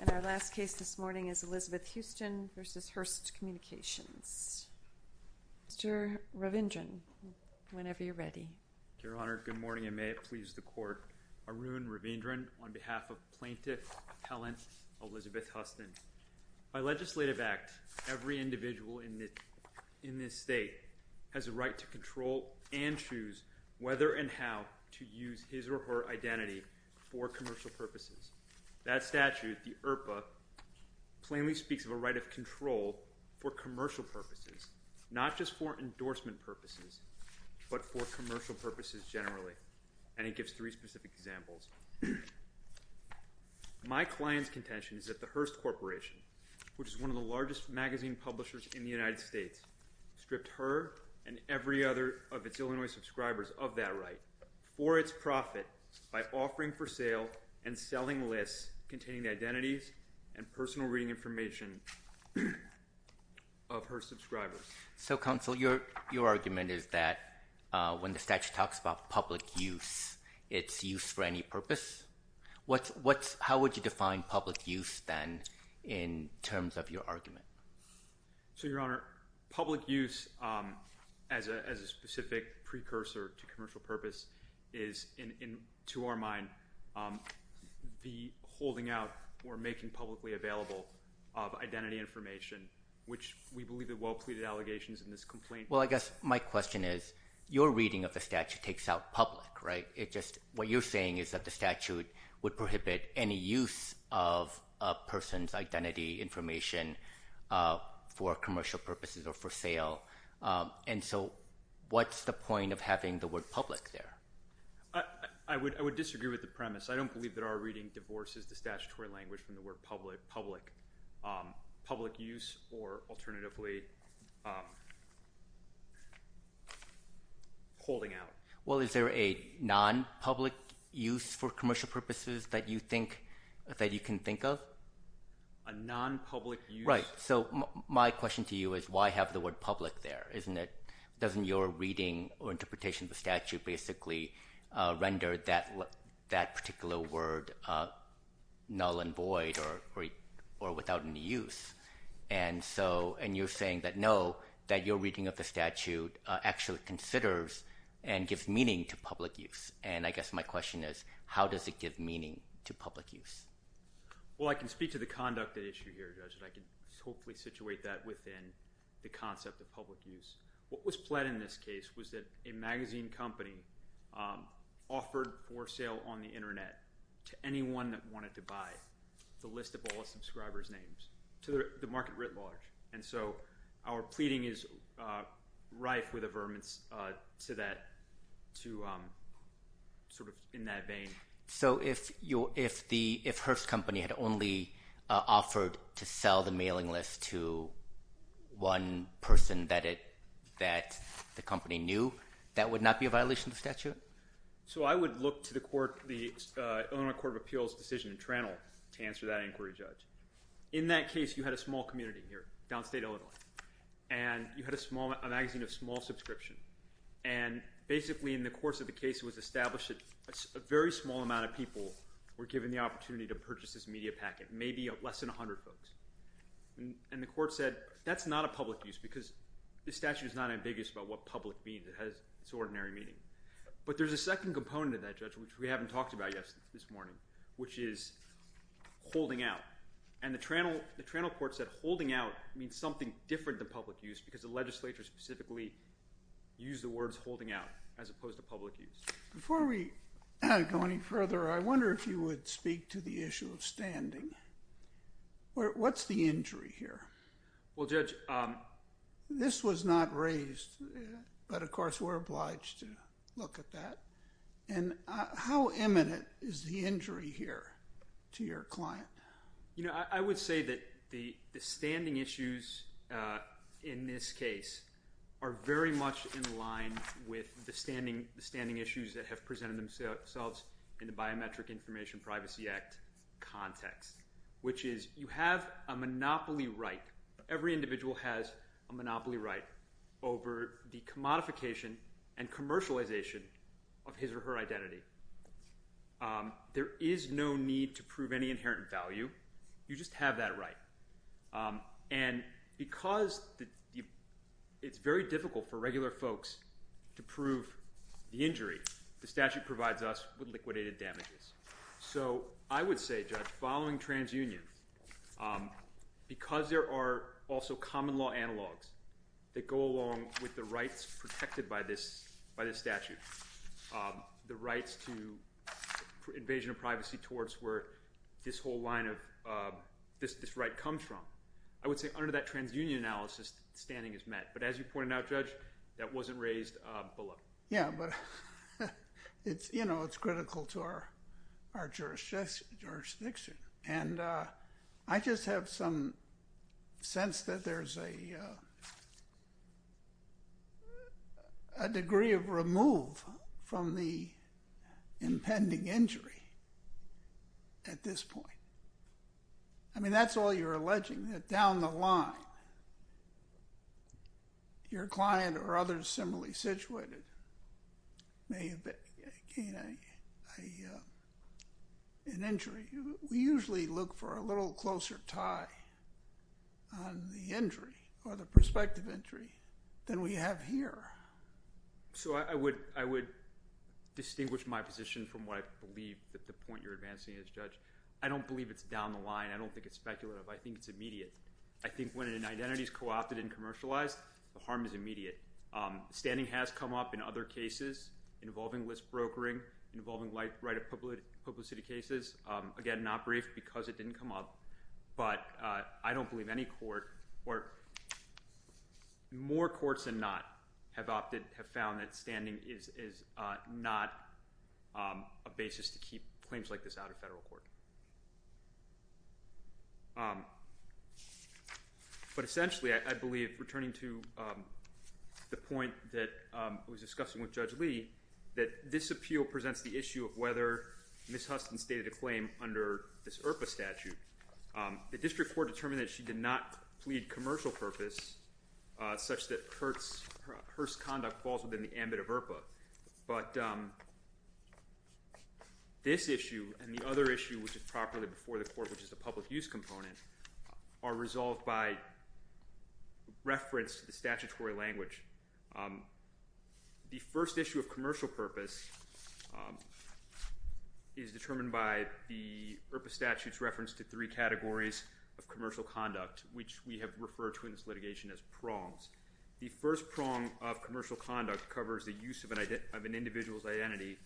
And our last case this morning is Elizabeth Huston v. Hearst Communications. Mr. Ravindran, whenever you're ready. Your Honor, good morning and may it please the Court. Arun Ravindran on behalf of Plaintiff Appellant Elizabeth Huston. By legislative act, every individual in this state has a right to control and choose whether and how to use his or her identity for commercial purposes. That statute, the IRPA, plainly speaks of a right of control for commercial purposes. Not just for endorsement purposes, but for commercial purposes generally. And it gives three specific examples. My client's contention is that the Hearst Corporation, which is one of the largest magazine publishers in the United States, stripped her and every other of its Illinois subscribers of that right for its profit by offering for sale and selling lists containing the identities and personal reading information of Hearst subscribers. So counsel, your argument is that when the statute talks about public use, it's use for any purpose? How would you define public use then in terms of your argument? So, Your Honor, public use as a specific precursor to commercial purpose is, to our mind, the holding out or making publicly available of identity information, which we believe are well-pleaded allegations in this complaint. Well, I guess my question is, your reading of the statute takes out public, right? What you're saying is that the statute would prohibit any use of a person's identity information for commercial purposes or for sale. And so what's the point of having the word public there? I would disagree with the premise. I don't believe that our reading divorces the statutory language from the word public use or alternatively holding out. Well, is there a non-public use for commercial purposes that you think that you can think of? A non-public use? Right. So my question to you is, why have the word public there, isn't it? Doesn't your reading or interpretation of the statute basically render that particular word null and void or without any use? And so, and you're saying that no, that your reading of the statute actually considers and gives meaning to public use. And I guess my question is, how does it give meaning to public use? Well, I can speak to the conduct issue here, Judge, and I can hopefully situate that within the concept of public use. What was pled in this case was that a magazine company offered for sale on the internet to the market writ large. And so, our pleading is rife with averments to that, to sort of in that vein. So if Herff's company had only offered to sell the mailing list to one person that the company knew, that would not be a violation of the statute? So I would look to the court, the Illinois Court of Appeals decision in Toronto to answer that inquiry, Judge. In that case, you had a small community here downstate Illinois, and you had a magazine of small subscription. And basically, in the course of the case, it was established that a very small amount of people were given the opportunity to purchase this media packet, maybe less than 100 folks. And the court said, that's not a public use because the statute is not ambiguous about what public means. It has its ordinary meaning. But there's a second component of that, Judge, which we haven't talked about yet this morning, which is holding out. And the Toronto Court said holding out means something different than public use because the legislature specifically used the words holding out as opposed to public use. Before we go any further, I wonder if you would speak to the issue of standing. What's the injury here? Well, Judge, this was not raised, but of course, we're obliged to look at that. And how imminent is the injury here to your client? You know, I would say that the standing issues in this case are very much in line with the standing issues that have presented themselves in the Biometric Information Privacy Act context, which is you have a monopoly right. Every individual has a monopoly right over the commodification and commercialization of his or her identity. There is no need to prove any inherent value. You just have that right. And because it's very difficult for regular folks to prove the injury, the statute provides us with liquidated damages. So I would say, Judge, following TransUnion, because there are also common law analogs that go along with the rights protected by this statute, the rights to invasion of privacy towards where this whole line of this right comes from. I would say under that TransUnion analysis, standing is met. But as you pointed out, Judge, that wasn't raised below. Yeah, but it's, you know, it's critical to our jurisdiction. And I just have some sense that there's a degree of remove from the impending injury at this point. I mean, that's all you're alleging, that down the line, your client or others similarly situated may have gained an injury. We usually look for a little closer tie on the injury or the prospective injury than we have here. So I would distinguish my position from what I believe that the point you're advancing is, Judge. I don't believe it's down the line. I don't think it's speculative. I think it's immediate. I think when an identity is co-opted and commercialized, the harm is immediate. Standing has come up in other cases involving list brokering, involving right of publicity cases. Again, not briefed because it didn't come up. But I don't believe any court or more courts than not have opted, have found that standing is not a basis to keep claims like this out of federal court. But essentially, I believe, returning to the point that I was discussing with Judge Lee, that this appeal presents the issue of whether Ms. Huston stated a claim under this IRPA statute. The district court determined that she did not plead commercial purpose such that her conduct falls within the ambit of IRPA. But this issue and the other issue, which is properly before the court, which is the public use component, are resolved by reference to the statutory language. The first issue of commercial purpose is determined by the IRPA statute's reference to three categories of commercial conduct, which we have referred to in this litigation as prongs. The first prong of commercial conduct covers the use of an individual's identity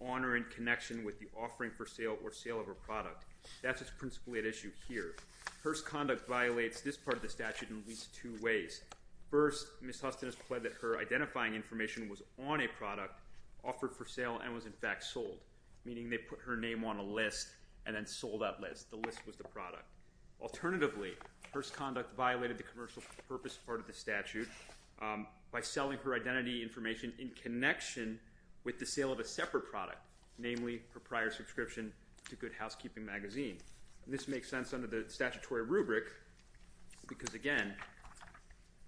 on or in connection with the offering for sale or sale of a product. That's what's principally at issue here. First, conduct violates this part of the statute in at least two ways. First, Ms. Huston has pledged that her identifying information was on a product offered for sale and was in fact sold, meaning they put her name on a list and then sold that list. The list was the product. Alternatively, her conduct violated the commercial purpose part of the statute by selling her identity information in connection with the sale of a separate product, namely her prior subscription to Good Housekeeping magazine. This makes sense under the statutory rubric because, again,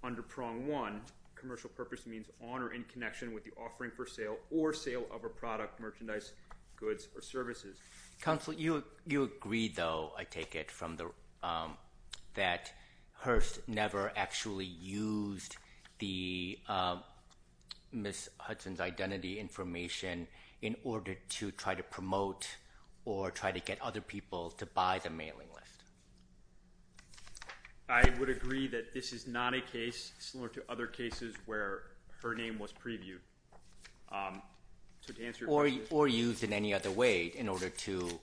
under prong one, commercial purpose means on or in connection with the offering for sale or sale of a product, merchandise, goods, or services. Counsel, you agree, though, I take it, that Hearst never actually used Ms. Huston's identity information in order to try to promote or try to get other people to buy the mailing list. I would agree that this is not a case similar to other cases where her name was previewed. Or used in any other way in order to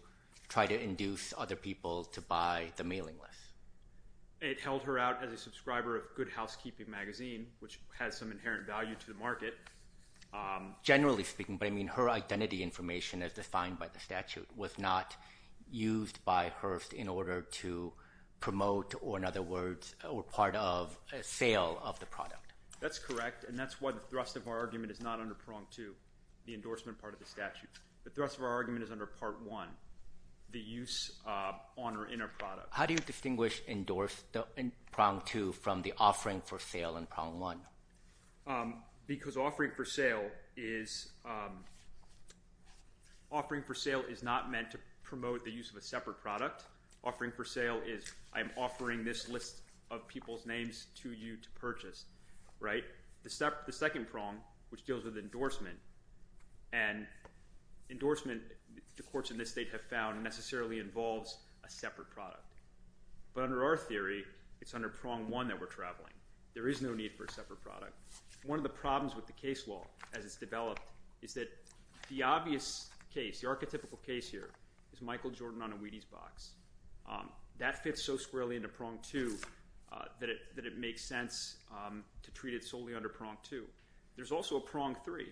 try to induce other people to buy the mailing list. It held her out as a subscriber of Good Housekeeping magazine, which has some inherent value to the market. Generally speaking, but I mean her identity information as defined by the statute was not used by Hearst in order to promote or, in other words, or part of a sale of the product. That's correct, and that's why the thrust of our argument is not under prong two, the endorsement part of the statute. The thrust of our argument is under part one, the use on or in a product. How do you distinguish endorsement in prong two from the offering for sale in prong one? Because offering for sale is not meant to promote the use of a separate product. Offering for sale is I'm offering this list of people's names to you to purchase, right? The second prong, which deals with endorsement, and endorsement the courts in this state have found necessarily involves a separate product. But under our theory, it's under prong one that we're traveling. There is no need for a separate product. One of the problems with the case law as it's developed is that the obvious case, the That fits so squarely into prong two that it makes sense to treat it solely under prong two. There's also a prong three.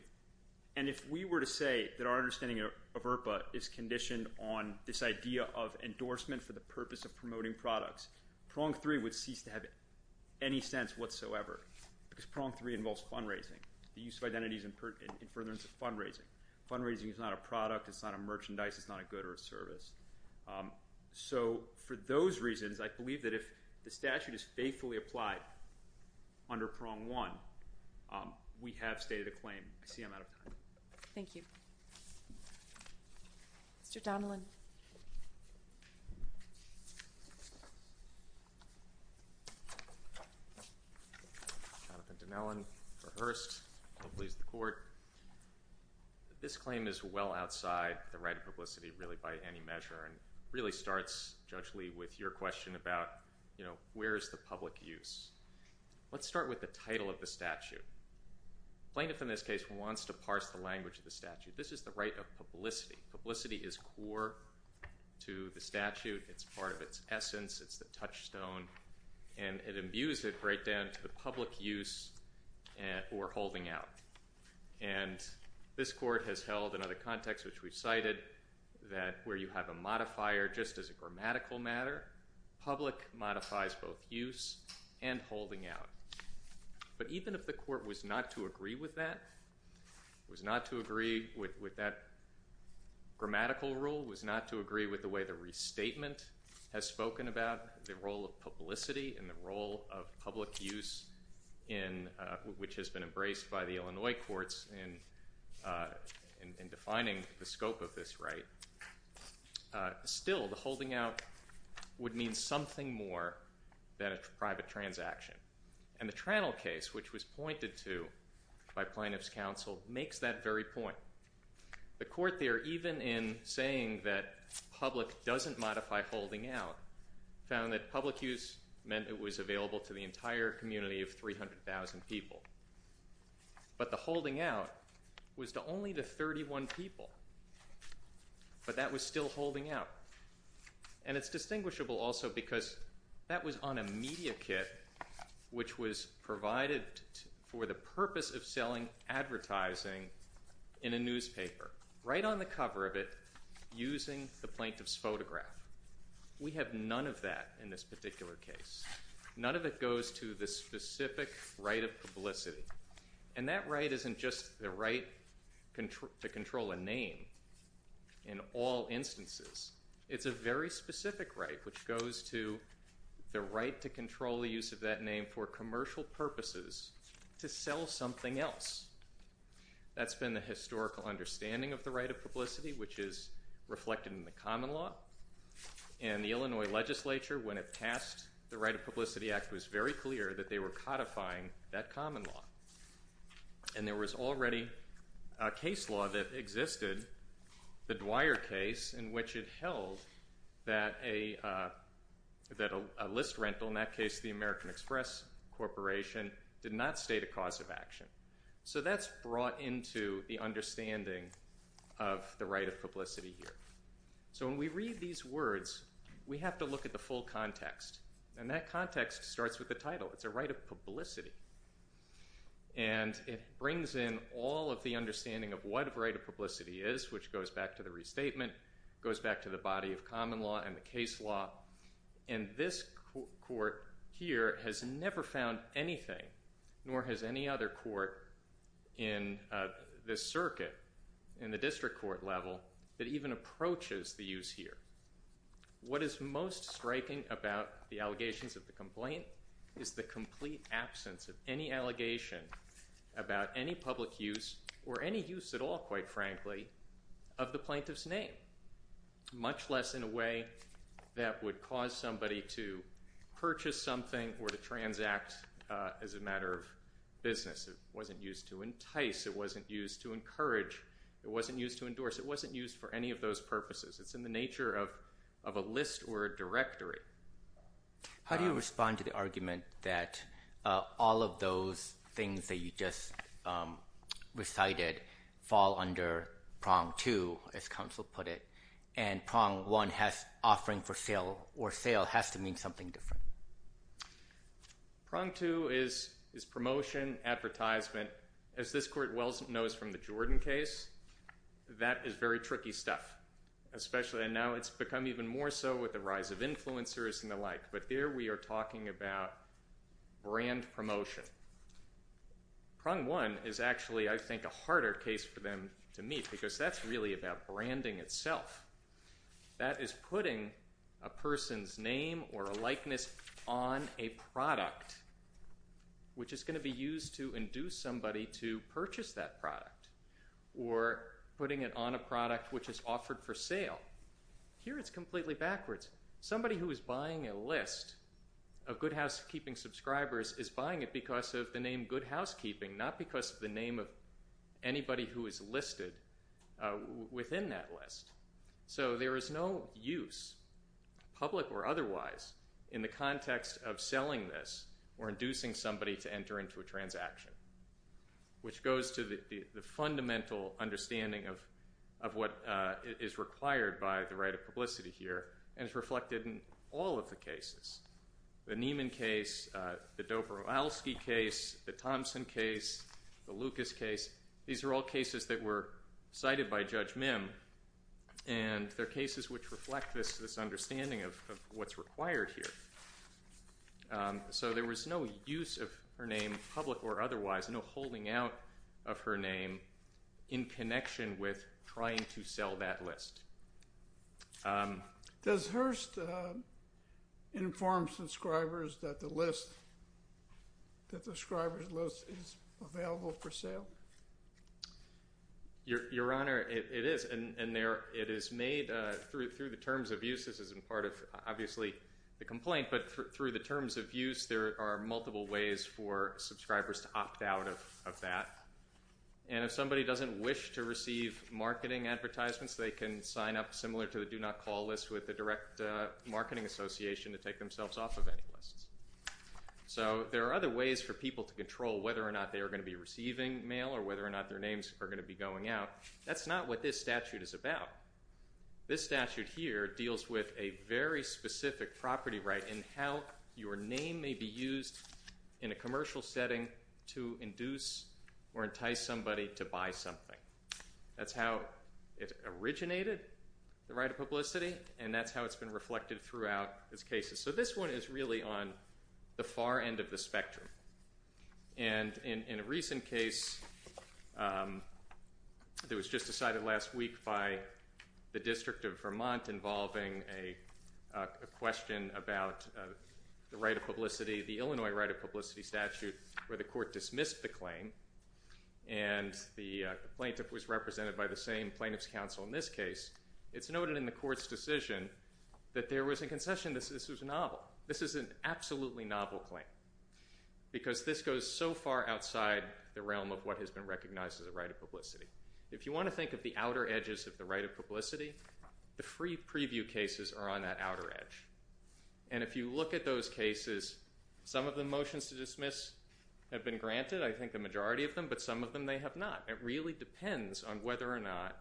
And if we were to say that our understanding of IRPA is conditioned on this idea of endorsement for the purpose of promoting products, prong three would cease to have any sense whatsoever because prong three involves fundraising, the use of identities in furtherance of fundraising. Fundraising is not a product. It's not a merchandise. It's not a good or a service. So for those reasons, I believe that if the statute is faithfully applied under prong one, we have stated a claim. I see I'm out of time. Thank you. Mr. Donilon. Jonathan Donilon for Hearst. I'll please the court. This claim is well outside the right of publicity really by any measure and really starts, Judge Lee, with your question about where is the public use. Let's start with the title of the statute. Plaintiff in this case wants to parse the language of the statute. This is the right of publicity. Publicity is core to the statute. It's part of its essence. It's the touchstone. And it imbues it right down to the public use or holding out. And this court has held another context, which we've cited, that where you have a modifier just as a grammatical matter, public modifies both use and holding out. But even if the court was not to agree with that, was not to agree with that grammatical rule, was not to agree with the way the restatement has spoken about the role of publicity and the role of public use, which has been embraced by the Illinois courts in defining the scope of this right, still the holding out would mean something more than a private transaction. And the Trannel case, which was pointed to by plaintiff's counsel, makes that very point. The court there, even in saying that public doesn't modify holding out, found that public use meant it was available to the entire community of 300,000 people. But the holding out was to only the 31 people. But that was still holding out. And it's distinguishable also because that was on a media kit, which was provided for the purpose of selling advertising in a newspaper, right on the cover of it, using the plaintiff's photograph. We have none of that in this particular case. None of it goes to the specific right of publicity. And that right isn't just the right to control a name in all instances. It's a very specific right, which goes to the right to control the use of that name for commercial purposes to sell something else. That's been the historical understanding of the right of publicity, which is reflected in the common law. And the Illinois legislature, when it passed the Right of Publicity Act, was very clear that they were codifying that common law. And there was already a case law that existed, the Dwyer case, in which it held that a list rental, in that case the American Express Corporation, did not state a cause of action. So that's brought into the understanding of the right of publicity here. So when we read these words, we have to look at the full context. And that context starts with the title. It's a right of publicity. And it brings in all of the understanding of what a right of publicity is, which goes back to the restatement, goes back to the body of common law and the case law. And this court here has never found anything, nor has any other court in this circuit, in the district court level, that even approaches the use here. What is most striking about the allegations of the complaint is the complete absence of any allegation about any public use, or any use at all, quite frankly, of the plaintiff's name, much less in a way that would cause somebody to purchase something or to transact as a matter of business. It wasn't used to entice. It wasn't used to encourage. It wasn't used to endorse. It wasn't used for any of those purposes. It's in the nature of a list or a directory. How do you respond to the argument that all of those things that you just recited fall under prong two, as counsel put it, and prong one has offering for sale or sale has to mean something different? Prong two is promotion, advertisement. As this court well knows from the Jordan case, that is very tricky stuff, and now it's become even more so with the rise of influencers and the like. But there we are talking about brand promotion. Prong one is actually, I think, a harder case for them to meet because that's really about branding itself. That is putting a person's name or a likeness on a product, which is going to be used to induce somebody to purchase that product, or putting it on a product which is offered for sale. Here it's completely backwards. Somebody who is buying a list of Good Housekeeping subscribers is buying it because of the name Good Housekeeping, not because of the name of anybody who is listed within that list. So there is no use, public or otherwise, in the context of selling this or inducing somebody to enter into a transaction, which goes to the fundamental understanding of what is required by the right of publicity here and is reflected in all of the cases. The Neiman case, the Dobrowolski case, the Thompson case, the Lucas case, these are all cases that were cited by Judge Mim, and they're cases which reflect this understanding of what's required here. So there was no use of her name, public or otherwise, no holding out of her name in connection with trying to sell that list. Does Hearst inform subscribers that the list, that the subscribers list is available for sale? Your Honor, it is, and it is made through the terms of use. This isn't part of, obviously, the complaint, but through the terms of use, there are multiple ways for subscribers to opt out of that. And if somebody doesn't wish to receive marketing advertisements, they can sign up, similar to the do not call list, with the direct marketing association to take themselves off of any lists. So there are other ways for people to control whether or not they are going to be receiving mail or whether or not their names are going to be going out. That's not what this statute is about. This statute here deals with a very specific property right in how your name may be used in a commercial setting to induce or entice somebody to buy something. That's how it originated, the right of publicity, and that's how it's been reflected throughout these cases. So this one is really on the far end of the spectrum. And in a recent case that was just decided last week by the District of Vermont involving a question about the right of publicity, the Illinois right of publicity statute, where the court dismissed the claim and the plaintiff was represented by the same plaintiff's counsel in this case, it's noted in the court's decision that there was a concession that this was a novel. This is an absolutely novel claim because this goes so far outside the realm of what has been recognized as a right of publicity. If you want to think of the outer edges of the right of publicity, the free preview cases are on that outer edge. And if you look at those cases, some of the motions to dismiss have been granted, I think the majority of them, but some of them they have not. It really depends on whether or not,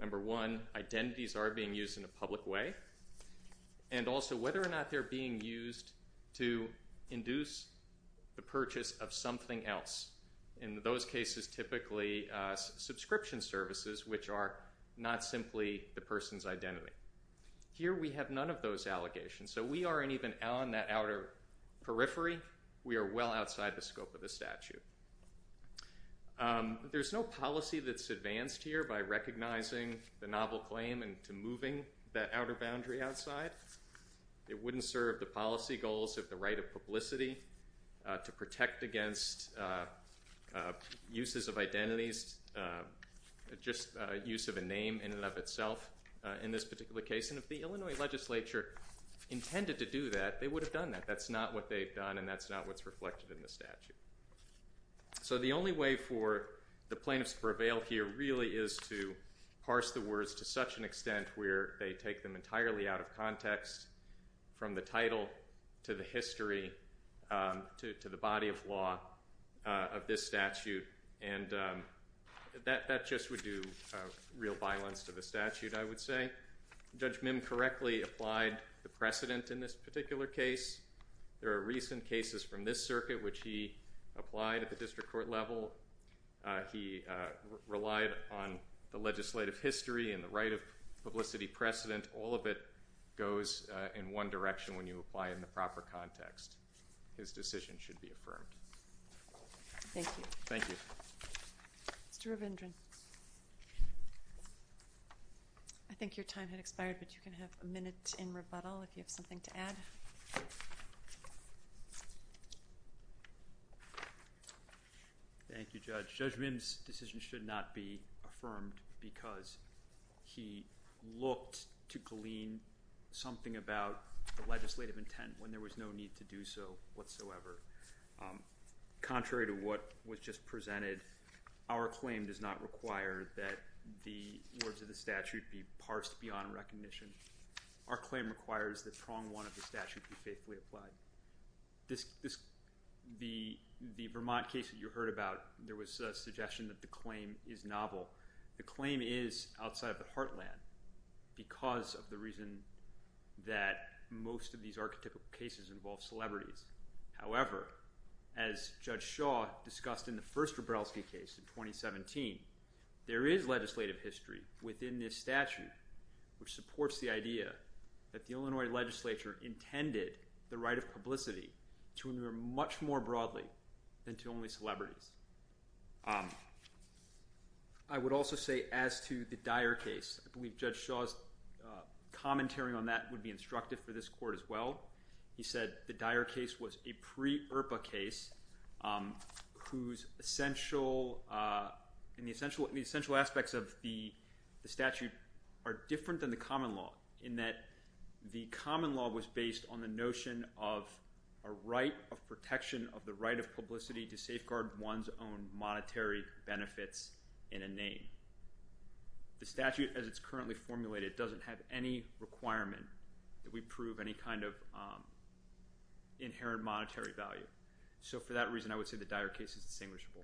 number one, identities are being used in a public way, and also whether or not they're being used to induce the purchase of something else. In those cases, typically subscription services, which are not simply the person's identity. Here we have none of those allegations, so we aren't even on that outer periphery. We are well outside the scope of the statute. There's no policy that's advanced here by recognizing the novel claim and to moving that outer boundary outside. It wouldn't serve the policy goals of the right of publicity to protect against uses of identities, just use of a name in and of itself in this particular case. And if the Illinois legislature intended to do that, they would have done that. That's not what they've done, and that's not what's reflected in the statute. So the only way for the plaintiffs to prevail here really is to parse the words to such an extent where they take them entirely out of context, from the title to the history to the body of law of this statute, and that just would do real violence to the statute. I would say Judge Mim correctly applied the precedent in this particular case. There are recent cases from this circuit which he applied at the district court level. He relied on the legislative history and the right of publicity precedent. All of it goes in one direction when you apply in the proper context. His decision should be affirmed. Thank you. Thank you. Mr. Ravindran. I think your time had expired, but you can have a minute in rebuttal if you have something to add. Thank you, Judge. Judge Mim's decision should not be affirmed because he looked to glean something about the legislative intent when there was no need to do so whatsoever. Contrary to what was just presented, our claim does not require that the words of the statute be parsed beyond recognition. Our claim requires that prong one of the statute be faithfully applied. The Vermont case that you heard about, there was a suggestion that the claim is novel. The claim is outside of the heartland because of the reason that most of these archetypal cases involve celebrities. However, as Judge Shaw discussed in the first Wroblewski case in 2017, there is legislative history within this statute, which supports the idea that the Illinois legislature intended the right of publicity to endure much more broadly than to only celebrities. I would also say as to the Dyer case, I believe Judge Shaw's commentary on that would be instructive for this court as well. He said the Dyer case was a pre-ERPA case whose essential aspects of the statute are different than the common law in that the common law was based on the notion of a right of protection of the right of publicity to safeguard one's own monetary benefits in a name. The statute as it's currently formulated doesn't have any requirement that we inherit monetary value. So for that reason I would say the Dyer case is distinguishable.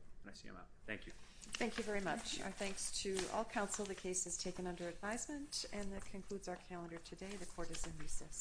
Thank you. Thank you very much. Our thanks to all counsel. The case is taken under advisement and that concludes our calendar today. The court is in recess.